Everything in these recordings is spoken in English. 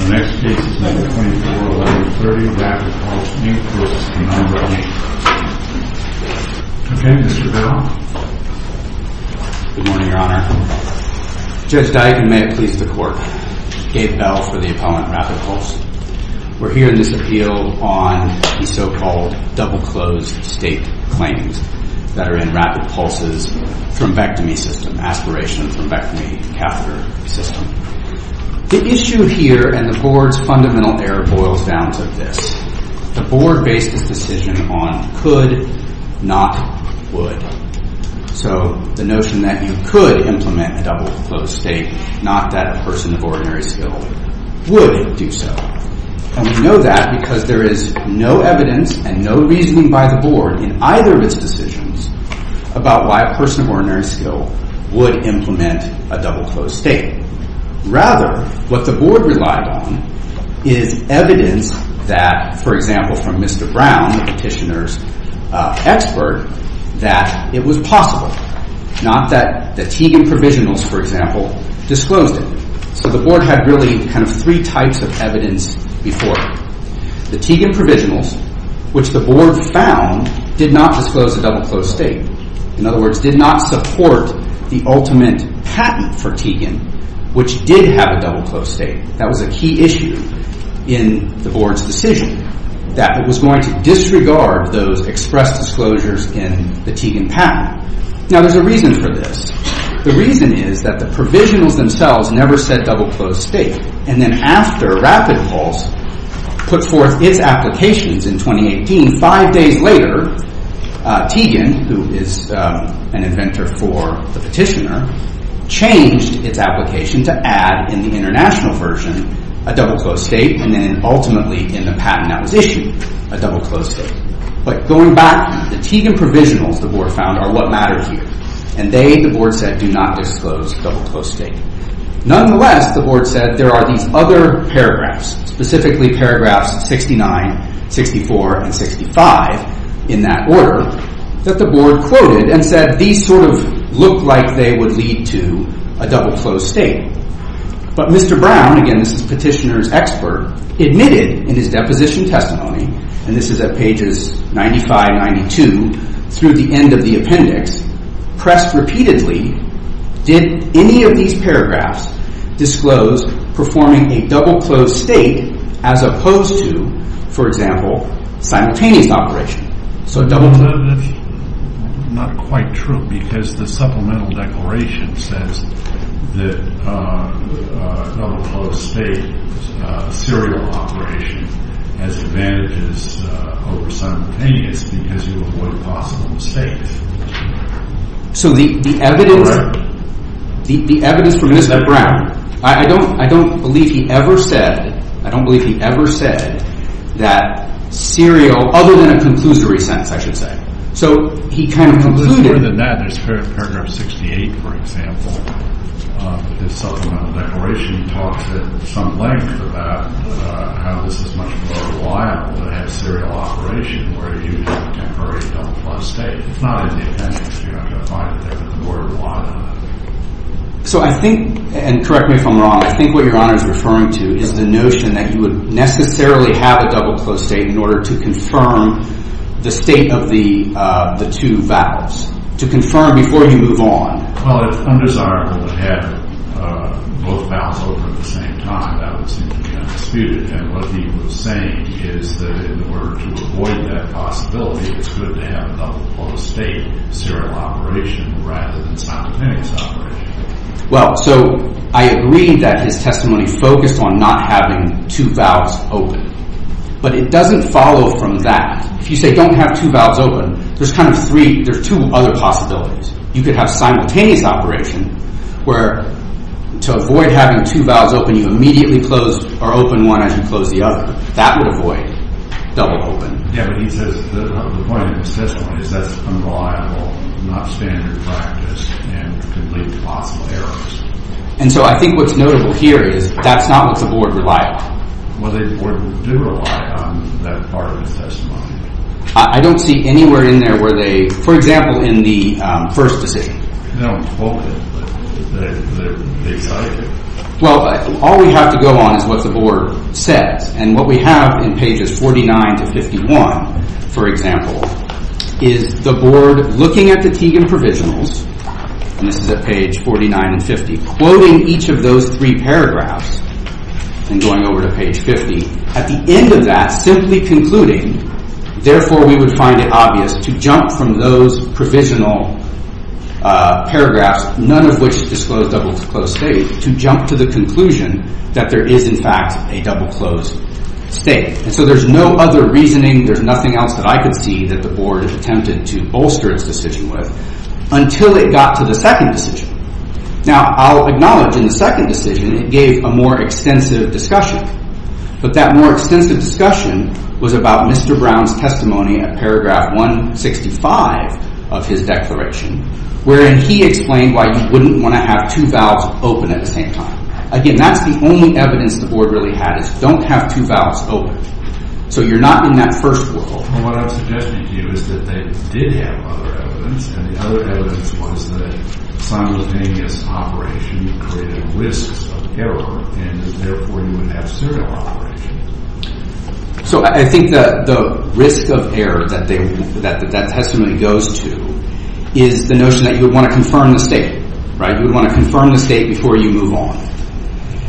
The next case is number 241130, RapidPulse, Inc. v. Penumbra, Inc. Okay, Mr. Bell. Good morning, Your Honor. Judge Dike and may it please the Court, I'm Gabe Bell for the Appellant RapidPulse. We're here in this appeal on the so-called double-closed state claims that are in RapidPulse's thrombectomy system, aspiration thrombectomy catheter system. The issue here and the Board's fundamental error boils down to this. The Board based its decision on could, not would. So the notion that you could implement a double-closed state, not that a person of ordinary skill would do so. And we know that because there is no evidence and no reasoning by the Board in either of its decisions about why a person of ordinary skill would implement a double-closed state. Rather, what the Board relied on is evidence that, for example, from Mr. Brown, the petitioner's expert, that it was possible. Not that the Teagan Provisionals, for example, disclosed it. So the Board had really kind of three types of evidence before. The Teagan Provisionals, which the Board found, did not disclose a double-closed state. In other words, did not support the ultimate patent for Teagan, which did have a double-closed state. That was a key issue in the Board's decision, that it was going to disregard those expressed disclosures in the Teagan patent. Now, there's a reason for this. The reason is that the Provisionals themselves never said double-closed state. And then after RapidPulse put forth its applications in 2018, five days later, Teagan, who is an inventor for the petitioner, changed its application to add, in the international version, a double-closed state, and then ultimately, in the patent that was issued, a double-closed state. But going back, the Teagan Provisionals, the Board found, are what mattered here. And they, the Board said, do not disclose double-closed state. Nonetheless, the Board said there are these other paragraphs, specifically paragraphs 69, 64, and 65, in that order, that the Board quoted and said these sort of look like they would lead to a double-closed state. But Mr. Brown, again, this is the petitioner's expert, admitted in his deposition testimony, and this is at pages 95, 92, through the end of the appendix, pressed repeatedly, did any of these paragraphs disclose performing a double-closed state as opposed to, for example, simultaneous operation? So double-closed state. That's not quite true because the supplemental declaration says that double-closed state serial operation has advantages over simultaneous because you avoid possible mistakes. So the evidence, the evidence from Mr. Brown, I don't believe he ever said, I don't believe he ever said that serial, other than a conclusory sentence, I should say. So he kind of concluded. So I think, and correct me if I'm wrong, I think what Your Honor is referring to is the notion that you would necessarily have a double-closed state in order to confirm the state of the two vows. To confirm before you move on. Well, it's undesirable to have both vows open at the same time. That would seem to be undisputed. And what he was saying is that in order to avoid that possibility, it's good to have a double-closed state serial operation rather than simultaneous operation. Well, so I agree that his testimony focused on not having two vows open. But it doesn't follow from that. If you say don't have two vows open, there's kind of three, there's two other possibilities. You could have simultaneous operation where to avoid having two vows open, you immediately close or open one as you close the other. That would avoid double-open. Yeah, but he says the point of his testimony is that's unreliable, not standard practice, and could lead to possible errors. And so I think what's notable here is that's not what the Board relied on. Well, the Board did rely on that part of his testimony. I don't see anywhere in there where they, for example, in the first decision. They don't quote it, but they cite it. Well, all we have to go on is what the Board says. And what we have in pages 49 to 51, for example, is the Board looking at the Teagan Provisionals, and this is at page 49 and 50, quoting each of those three paragraphs and going over to page 50. At the end of that, simply concluding, therefore we would find it obvious to jump from those provisional paragraphs, none of which disclose double-closed state, to jump to the conclusion that there is in fact a double-closed state. And so there's no other reasoning, there's nothing else that I could see that the Board attempted to bolster its decision with until it got to the second decision. Now, I'll acknowledge in the second decision it gave a more extensive discussion, but that more extensive discussion was about Mr. Brown's testimony at paragraph 165 of his declaration, wherein he explained why you wouldn't want to have two valves open at the same time. Again, that's the only evidence the Board really had, is don't have two valves open. So you're not in that first world. Well, what I'm suggesting to you is that they did have other evidence, and the other evidence was that simultaneous operation created risks of error, and therefore you would have serial operation. So I think the risk of error that that testimony goes to is the notion that you would want to confirm the state, right? You would want to confirm the state before you move on.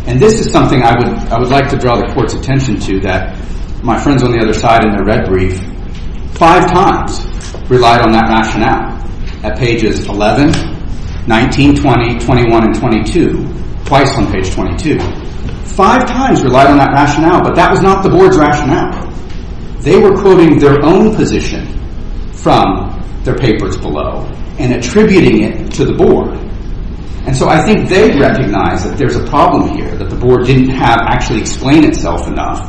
And this is something I would like to draw the Court's attention to, that my friends on the other side in their red brief five times relied on that rationale. At pages 11, 19, 20, 21, and 22, twice on page 22, five times relied on that rationale, but that was not the Board's rationale. They were quoting their own position from their papers below and attributing it to the Board. And so I think they recognize that there's a problem here, that the Board didn't have actually explained itself enough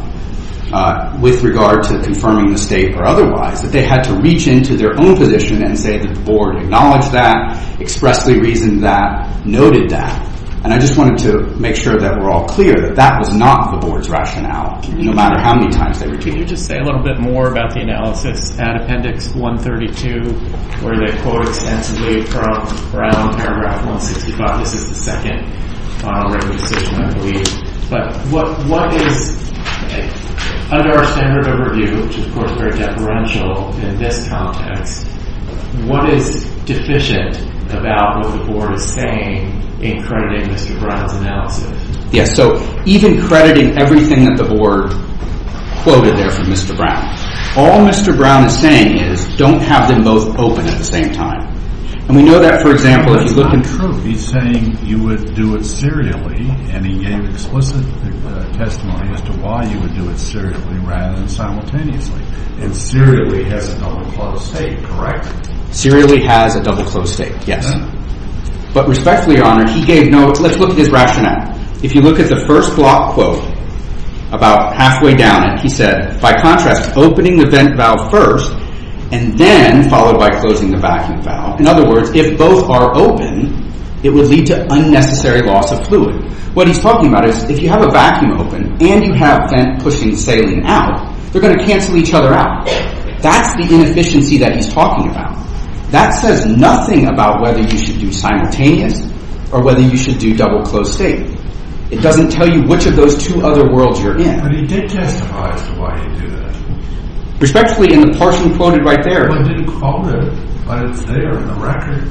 with regard to confirming the state or otherwise, that they had to reach into their own position and say that the Board acknowledged that, expressly reasoned that, noted that. And I just wanted to make sure that we're all clear that that was not the Board's rationale, no matter how many times they were told. Can you just say a little bit more about the analysis at appendix 132, where they quote extensively from around paragraph 165? This is the second written decision, I believe. But what is, under our standard of review, which is of course very deferential in this context, what is deficient about what the Board is saying in crediting Mr. Brown's analysis? Yes, so even crediting everything that the Board quoted there from Mr. Brown, all Mr. Brown is saying is don't have them both open at the same time. And we know that, for example, if you look in truth, he's saying you would do it serially, and he gave explicit testimony as to why you would do it serially rather than simultaneously. And serially has a double closed state, correct? Serially has a double closed state, yes. But respectfully, Your Honor, he gave notes. Let's look at his rationale. If you look at the first block quote, about halfway down it, he said, by contrast, opening the vent valve first, and then followed by closing the vacuum valve. In other words, if both are open, it would lead to unnecessary loss of fluid. What he's talking about is if you have a vacuum open, and you have vent pushing saline out, they're going to cancel each other out. That's the inefficiency that he's talking about. That says nothing about whether you should do simultaneous, or whether you should do double closed state. It doesn't tell you which of those two other worlds you're in. But he did testify as to why he did that. Respectfully, in the portion quoted right there. I didn't quote it, but it's there in the record.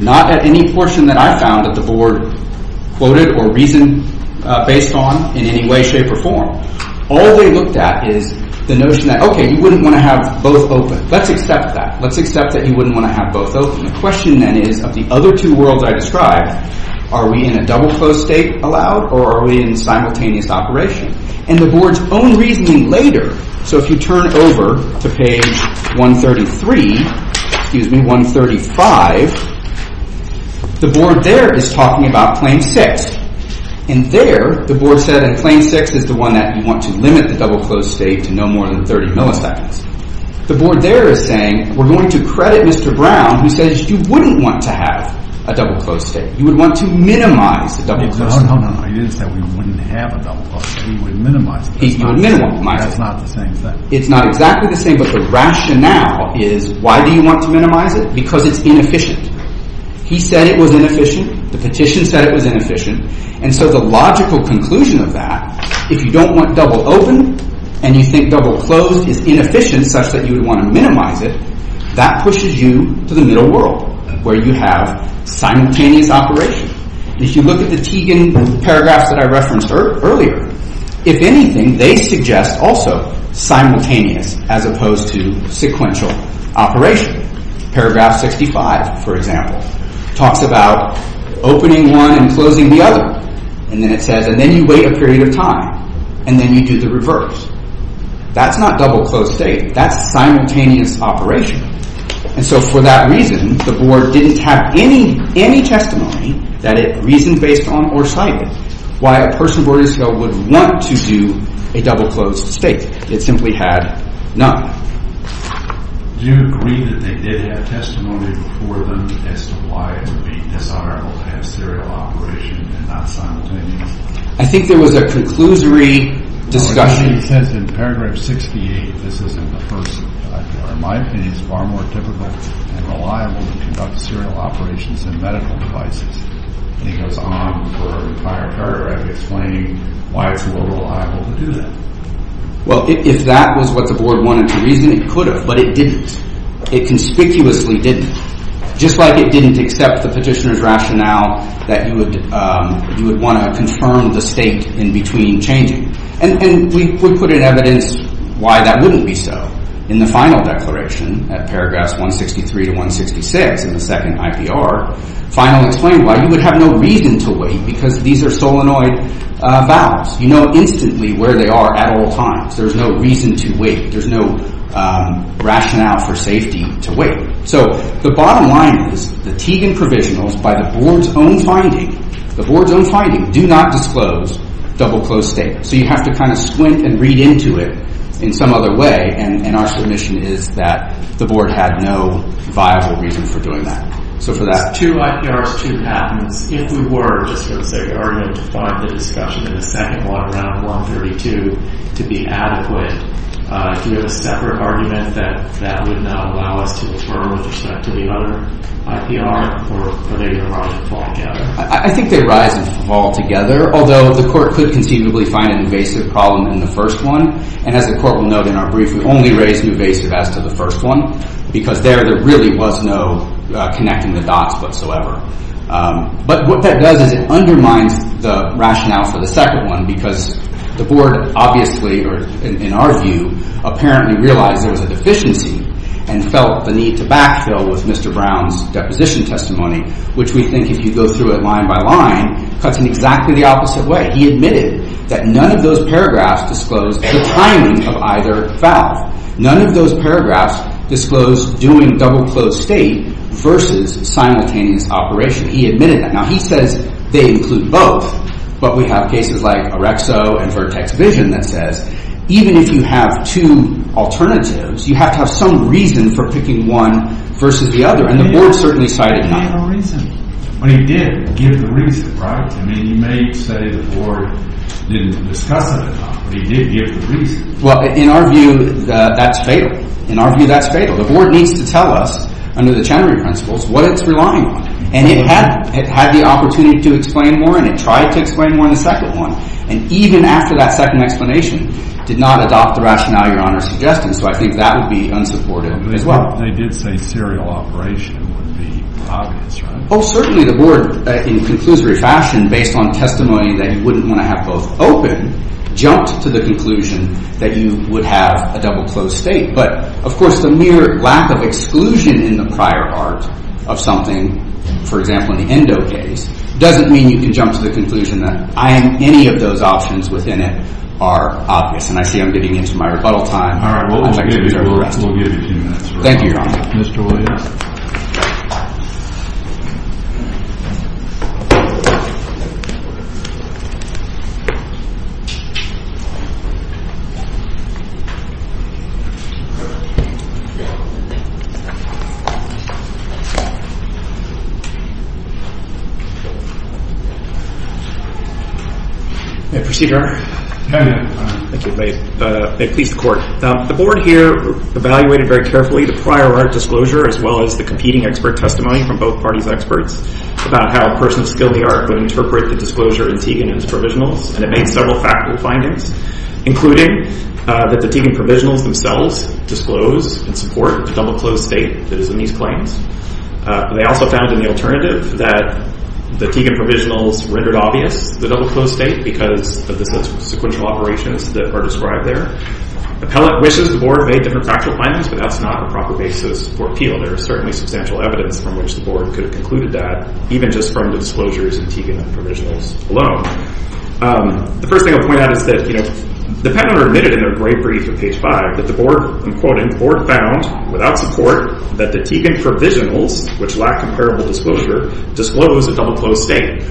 Not at any portion that I found that the board quoted or reasoned based on in any way, shape, or form. All they looked at is the notion that, okay, you wouldn't want to have both open. Let's accept that. Let's accept that you wouldn't want to have both open. The question then is, of the other two worlds I described, are we in a double closed state allowed, or are we in simultaneous operation? And the board's own reasoning later. So if you turn over to page 133, excuse me, 135, the board there is talking about claim six. And there, the board said that claim six is the one that you want to limit the double closed state to no more than 30 milliseconds. The board there is saying, we're going to credit Mr. Brown, who says you wouldn't want to have a double closed state. You would want to minimize the double closed state. No, no, no. He didn't say we wouldn't have a double closed state. He would minimize it. That's not the same thing. It's not exactly the same, but the rationale is, why do you want to minimize it? Because it's inefficient. He said it was inefficient. The petition said it was inefficient. And so the logical conclusion of that, if you don't want double open, and you think double closed is inefficient such that you would want to minimize it, that pushes you to the middle world, where you have simultaneous operation. If you look at the Teigen paragraphs that I referenced earlier, if anything, they suggest also simultaneous as opposed to sequential operation. Paragraph 65, for example, talks about opening one and closing the other. And then it says, and then you wait a period of time, and then you do the reverse. That's not double closed state. That's simultaneous operation. And so for that reason, the board didn't have any testimony that it reasoned based on or cited why a person boarding school would want to do a double closed state. It simply had none. Do you agree that they did have testimony before them as to why it would be dishonorable to have serial operation and not simultaneous? I think there was a conclusory discussion. It says in paragraph 68, this isn't the first. In my opinion, it's far more difficult and reliable to conduct serial operations than medical devices. And it goes on for a prior paragraph explaining why it's more reliable to do that. Well, if that was what the board wanted to reason, it could have, but it didn't. It conspicuously didn't, just like it didn't accept the petitioner's rationale that you would want to confirm the state in between changing. And we put in evidence why that wouldn't be so. In the final declaration at paragraphs 163 to 166 in the second IPR, finally explained why you would have no reason to wait because these are solenoid vows. You know instantly where they are at all times. There's no reason to wait. There's no rationale for safety to wait. So the bottom line is the Teagan provisionals by the board's own finding, the board's own finding, do not disclose double closed state. So you have to kind of squint and read into it in some other way, and our submission is that the board had no viable reason for doing that. So for that two IPRs, two patents, if we were, just for the sake of argument, to find the discussion in the second one around 132 to be adequate, do we have a separate argument that would now allow us to defer with respect to the other IPR, or are they going to rise and fall together? I think they rise and fall together, although the court could conceivably find an invasive problem in the first one. And as the court will note in our brief, we only raised an invasive as to the first one because there really was no connecting the dots whatsoever. But what that does is it undermines the rationale for the second one because the board obviously, or in our view, apparently realized there was a deficiency and felt the need to backfill with Mr. Brown's deposition testimony, which we think if you go through it line by line cuts in exactly the opposite way. He admitted that none of those paragraphs disclosed the timing of either foul. None of those paragraphs disclosed doing double-closed state versus simultaneous operation. He admitted that. Now, he says they include both, but we have cases like OREXO and Vertex Vision that says even if you have two alternatives, you have to have some reason for picking one versus the other, and the board certainly cited none. Well, he did give the reason, right? I mean, you may say the board didn't discuss it enough, but he did give the reason. Well, in our view, that's fatal. In our view, that's fatal. The board needs to tell us under the Chenery principles what it's relying on, and it had the opportunity to explain more, and it tried to explain more in the second one, and even after that second explanation, did not adopt the rationale Your Honor is suggesting, so I think that would be unsupportive as well. They did say serial operation would be obvious, right? Oh, certainly the board, in a conclusory fashion, based on testimony that he wouldn't want to have both open, jumped to the conclusion that you would have a double closed state. But, of course, the mere lack of exclusion in the prior art of something, for example, in the ENDO case, doesn't mean you can jump to the conclusion that any of those options within it are obvious, and I see I'm getting into my rebuttal time. All right. We'll give you two minutes. Thank you, Your Honor. Mr. Williams. Thank you. May I proceed, Your Honor? May I? Thank you. May it please the Court. The board here evaluated very carefully the prior art disclosure, as well as the competing expert testimony from both parties' experts about how a person skilled the art would interpret the disclosure in Tegan and his provisionals, and it made several factual findings, including that the Tegan provisionals themselves disclose and support the double closed state that is in these claims. They also found in the alternative that the Tegan provisionals rendered obvious the double closed state because of the sequential operations that are described there. Appellate wishes the board made different factual findings, but that's not a proper basis for appeal. There is certainly substantial evidence from which the board could have concluded that, even just from the disclosures in Tegan and the provisionals alone. The first thing I'll point out is that the panel admitted in their brief at page five that the board, I'm quoting, the board found without support that the Tegan provisionals, which lack comparable disclosure, disclose a double closed state.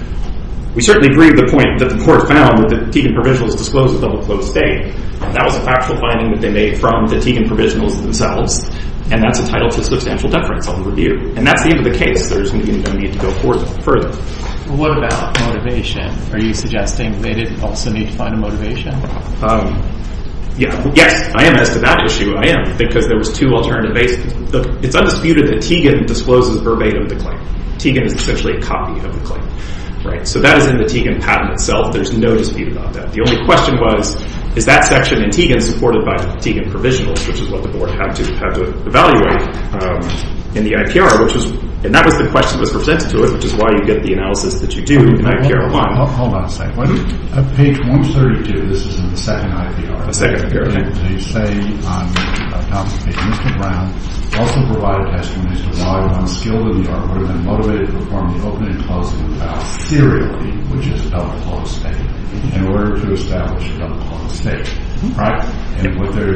We certainly agree with the point that the board found that the Tegan provisionals disclosed a double closed state, and that was a factual finding that they made from the Tegan provisionals themselves, and that's entitled to substantial deference on the review. And that's the end of the case. There's no need to go further. What about motivation? Are you suggesting they didn't also need to find a motivation? Yes, I am. As to that issue, I am, because there was two alternative bases. Look, it's undisputed that Tegan discloses verbatim the claim. Tegan is essentially a copy of the claim, right? So that is in the Tegan patent itself. There's no dispute about that. The only question was, is that section in Tegan supported by Tegan provisionals, which is what the board had to evaluate in the IPR, and that was the question that was presented to us, which is why you get the analysis that you do in IPR 1. Hold on a second. On page 132, this is in the second IPR. The second IPR, okay. They say, Mr. Brown also provided testimony as to why one skilled in the art would have been motivated to perform the opening and closing of the file serially, which is a double closed state, in order to establish a double closed state, right? And what the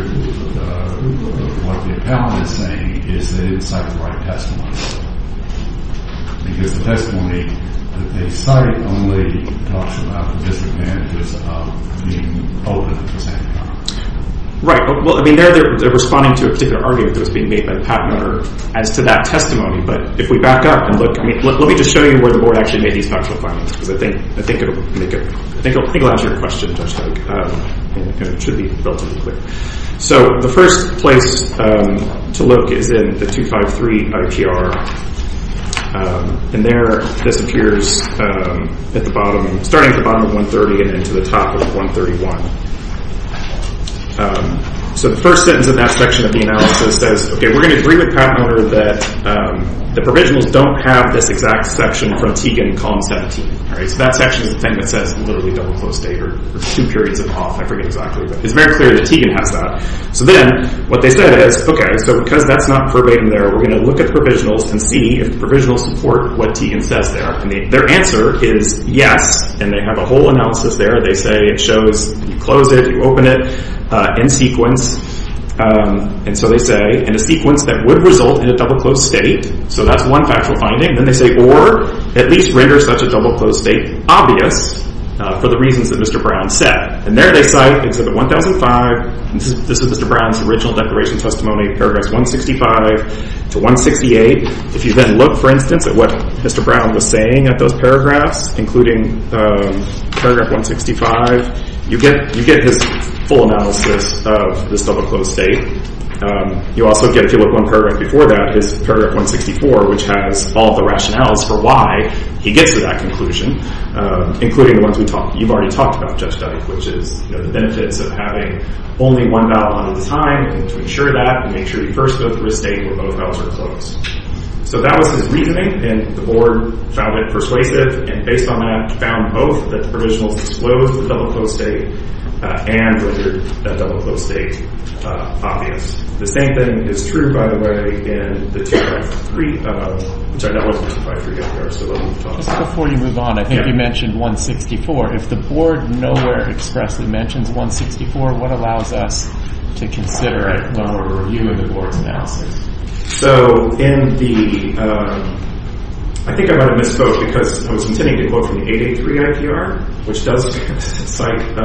appellant is saying is they didn't cite the right testimony, because the testimony that they cite only talks about the disadvantages of being open at the same time. Right. Well, I mean, they're responding to a particular argument that was being made by the patent owner as to that testimony. But if we back up and look, let me just show you where the board actually made these factual findings, because I think it will make it, I think it will answer your question, Judge Hague, and it should be relatively quick. So the first place to look is in the 253 IPR, and there this appears at the bottom, starting at the bottom of 130 and into the top of 131. So the first sentence in that section of the analysis says, okay, we're going to agree with the patent owner that the provisionals don't have this exact section from Tegan, column 17. So that section is the thing that says literally double closed state or two periods of off, I forget exactly. But it's very clear that Tegan has that. So then what they said is, okay, so because that's not verbatim there, we're going to look at the provisionals and see if the provisionals support what Tegan says there. And their answer is yes, and they have a whole analysis there. They say it shows you close it, you open it in sequence. And so they say, in a sequence that would result in a double closed state. So that's one factual finding. Then they say, or at least render such a double closed state obvious for the reasons that Mr. Brown said. And there they cite, it's at the 1005, this is Mr. Brown's original declaration testimony, paragraphs 165 to 168. If you then look, for instance, at what Mr. Brown was saying at those paragraphs, including paragraph 165, you get his full analysis of this double closed state. You also get, if you look at one paragraph before that, it's paragraph 164, which has all the rationales for why he gets to that conclusion, including the ones you've already talked about, which is the benefits of having only one vial at a time. And to ensure that, make sure you first go through a state where both vials are closed. So that was his reasoning, and the board found it persuasive. And based on that, found both that the provisional disclosed the double closed state and rendered that double closed state obvious. The same thing is true, by the way, in the 2.3, which I know wasn't in 2.3. Just before you move on, I think you mentioned 164. If the board nowhere expressly mentions 164, what allows us to consider a longer review of the board's analysis? So in the, I think I might have misspoke, because I was intending to quote from the 883 IPR, which does cite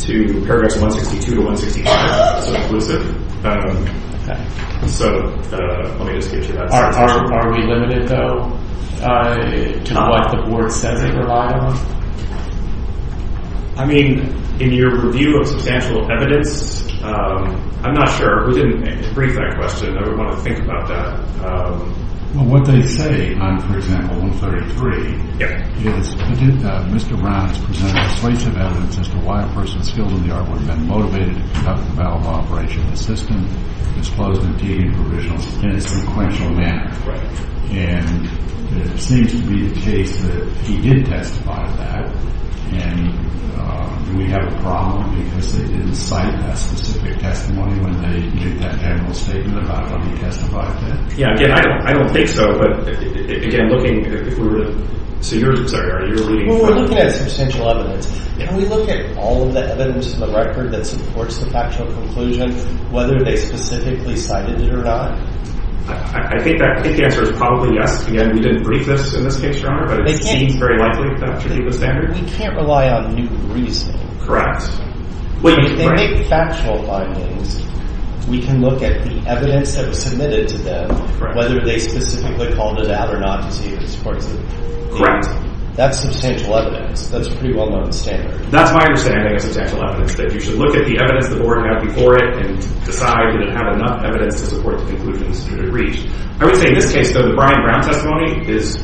to paragraphs 162 to 165, so inclusive. So let me just get you that. Are we limited, though, to what the board says they rely on? I mean, in your review of substantial evidence, I'm not sure. We didn't brief that question. I would want to think about that. Well, what they say on, for example, 133, is Mr. Brown has presented persuasive evidence as to why a person skilled in the art would have been motivated to conduct a battle law operation in a system disclosed in a provisional and sequential manner. And it seems to be the case that he did testify to that. And do we have a problem because they didn't cite that specific testimony when they made that general statement about how he testified to it? Yeah, again, I don't think so. But again, looking, if we were to, so you're, I'm sorry, are you alluding to something? Well, we're looking at substantial evidence. Can we look at all of the evidence in the record that supports the factual conclusion, whether they specifically cited it or not? I think that answer is probably yes. Again, we didn't brief this in this case, Your Honor, but it seems very likely that should be the standard. We can't rely on new reasoning. Correct. If they make factual findings, we can look at the evidence that was submitted to them, whether they specifically called it out or not to see if it supports it. Correct. That's substantial evidence. That's a pretty well-known standard. That's my understanding of substantial evidence, that you should look at the evidence the board had before it and decide did it have enough evidence to support the conclusions that it reached. I would say in this case, though, the Brian Brown testimony is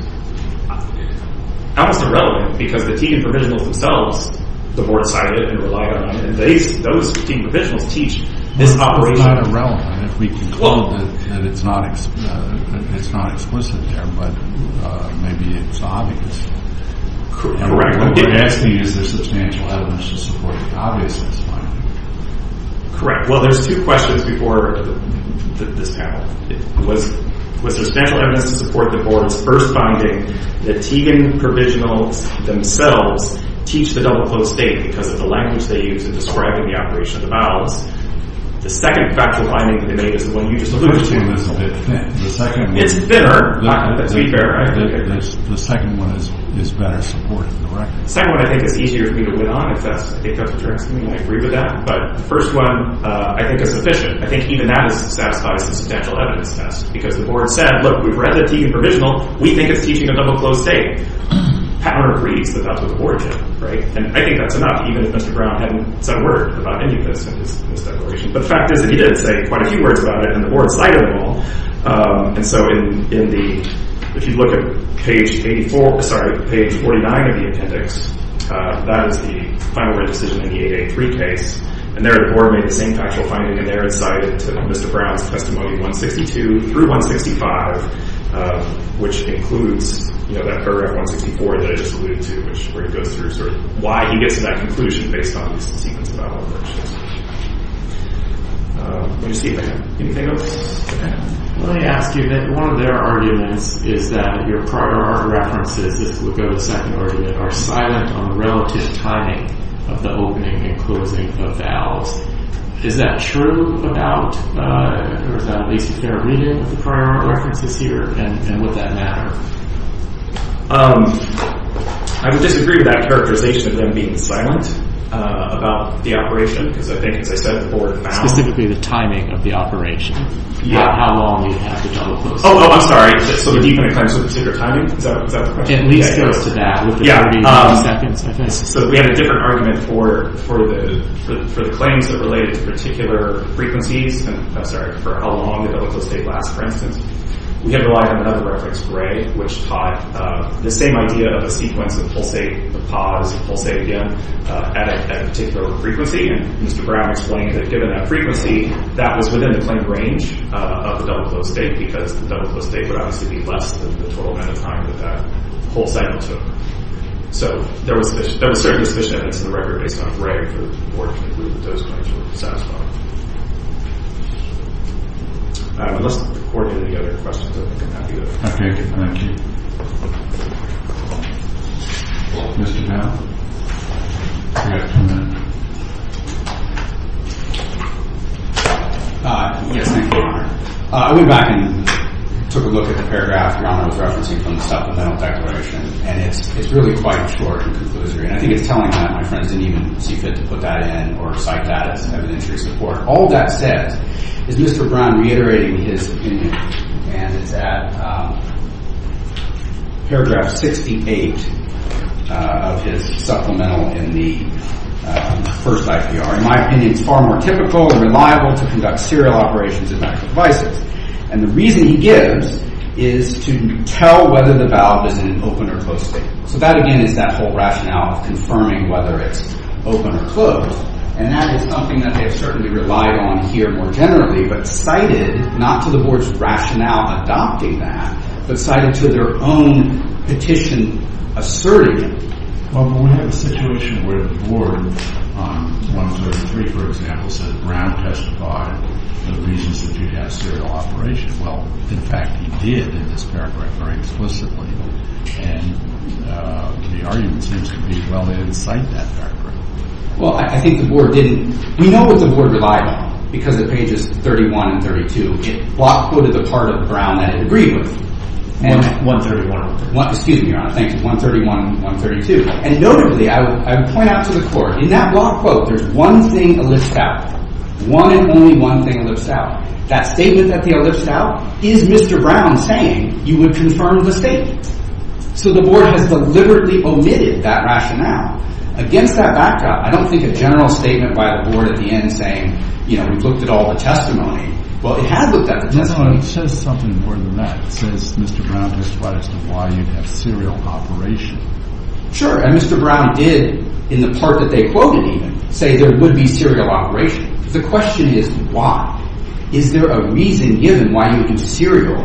almost irrelevant because the Tegan provisionals themselves, the board cited and relied on, and those Tegan provisionals teach this operation. It's not irrelevant if we conclude that it's not explicit there, but maybe it's obvious. Correct. What you're asking is, is there substantial evidence to support the obviousness finding? Correct. Well, there's two questions before this panel. Was there substantial evidence to support the board's first finding that Tegan provisionals themselves teach the double-closed state because of the language they use in describing the operation of the valves? The second factual finding that they made is the one you just alluded to. The first one is a bit thin. It's thinner. The second one is better supported. The second one, I think, is easier for me to win on. I agree with that. But the first one, I think, is sufficient. I think even that is satisfied as a substantial evidence test because the board said, look, we've read the Tegan provisional. We think it's teaching a double-closed state. Howard agrees that that's what the board did. And I think that's enough, even if Mr. Brown hadn't said a word about any of this in his declaration. But the fact is that he did say quite a few words about it, and the board cited them all. And so if you look at page 84, sorry, page 49 of the appendix, that is the final written decision in the 8A3 case. And there the board made the same factual finding, and they're incited to Mr. Brown's testimony 162 through 165, which includes that paragraph 164 that I just alluded to where he goes through sort of why he gets to that conclusion based on these sequence of allegations. Let me see if I have anything else. Let me ask you, one of their arguments is that your prior art references, this would go to the second argument, are silent on the relative timing of the opening and closing of the alves. Is that true about, or is that at least a fair reading of the prior art references here, and would that matter? I would disagree with that characterization of them being silent about the operation because I think, as I said, the board found— It's typically the timing of the operation, not how long you have to double-close. Oh, I'm sorry, so do you make claims to a particular timing? Is that the question? At least close to that, with the 30 seconds, I think. So we had a different argument for the claims that related to particular frequencies, and I'm sorry, for how long the double-closed state lasts, for instance. We had relied on another reference, Gray, which taught the same idea of a sequence of pulsate, the pause, pulsate again, at a particular frequency, and Mr. Brown explained that given that frequency, that was within the claimed range of the double-closed state, because the double-closed state would obviously be less than the total amount of time that that whole cycle took. So there was certainly sufficient evidence in the record, based on Gray, for the board to conclude that those claims were satisfiable. Unless the court had any other questions, I think I'm happy to— Okay, thank you. Mr. Powell? Yes, thank you. I went back and took a look at the paragraph Rahmer was referencing from the supplemental declaration, and it's really quite short and conclusory, and I think it's telling that my friends didn't even see fit to put that in or cite that as evidentiary support. All that said, is Mr. Brown reiterating his opinion, and it's at paragraph 68 of his supplemental in the first IPR. In my opinion, it's far more typical and reliable to conduct serial operations in medical devices, and the reason he gives is to tell whether the valve is in an open or closed state. So that, again, is that whole rationale of confirming whether it's open or closed, and that is something that they have certainly relied on here more generally, but cited not to the board's rationale adopting that, but cited to their own petition asserting it. Well, but we have a situation where the board on 103, for example, said that Brown testified the reasons that you have serial operation. Well, in fact, he did in this paragraph very explicitly, and the argument seems to be, well, they didn't cite that paragraph. Well, I think the board didn't. We know what the board relied on because of pages 31 and 32. It block quoted the part of Brown that it agreed with. 131. Excuse me, Your Honor. Thank you. 131 and 132. And notably, I would point out to the court, in that block quote, there's one thing elipsed out. One and only one thing elipsed out. That statement that they elipsed out is Mr. Brown saying you would confirm the statement. So the board has deliberately omitted that rationale. Against that backdrop, I don't think a general statement by the board at the end saying, you know, we've looked at all the testimony. Well, it has looked at the testimony. No, it says something more than that. It says Mr. Brown testified as to why you have serial operation. Sure. And Mr. Brown did in the part that they quoted even say there would be serial operation. The question is why? Is there a reason given why you do serial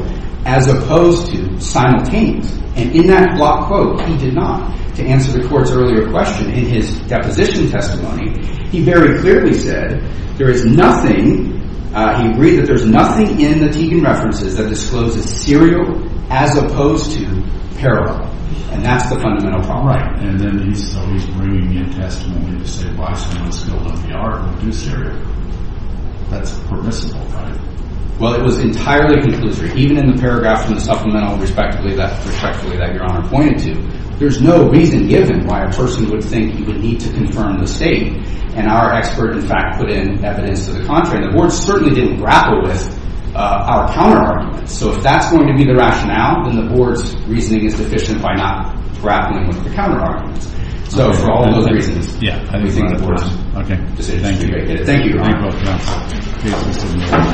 as opposed to simultaneous? And in that block quote, he did not. To answer the court's earlier question, in his deposition testimony, he very clearly said there is nothing. He agreed that there's nothing in the Teagan references that discloses serial as opposed to parallel. And that's the fundamental problem. And then he's always bringing in testimony to say why someone's filled up the R in the deuce area. That's permissible, right? Well, it was entirely conclusory. Even in the paragraph from the supplemental respectively that respectfully that Your Honor pointed to, there's no reason given why a person would think he would need to confirm the state. And our expert, in fact, put in evidence to the contrary. The board certainly didn't grapple with our counterarguments. So if that's going to be the rationale, then the board's reasoning is deficient by not grappling with the counterarguments. So for all of those reasons, we think the board's. Thank you. Thank you, Your Honor.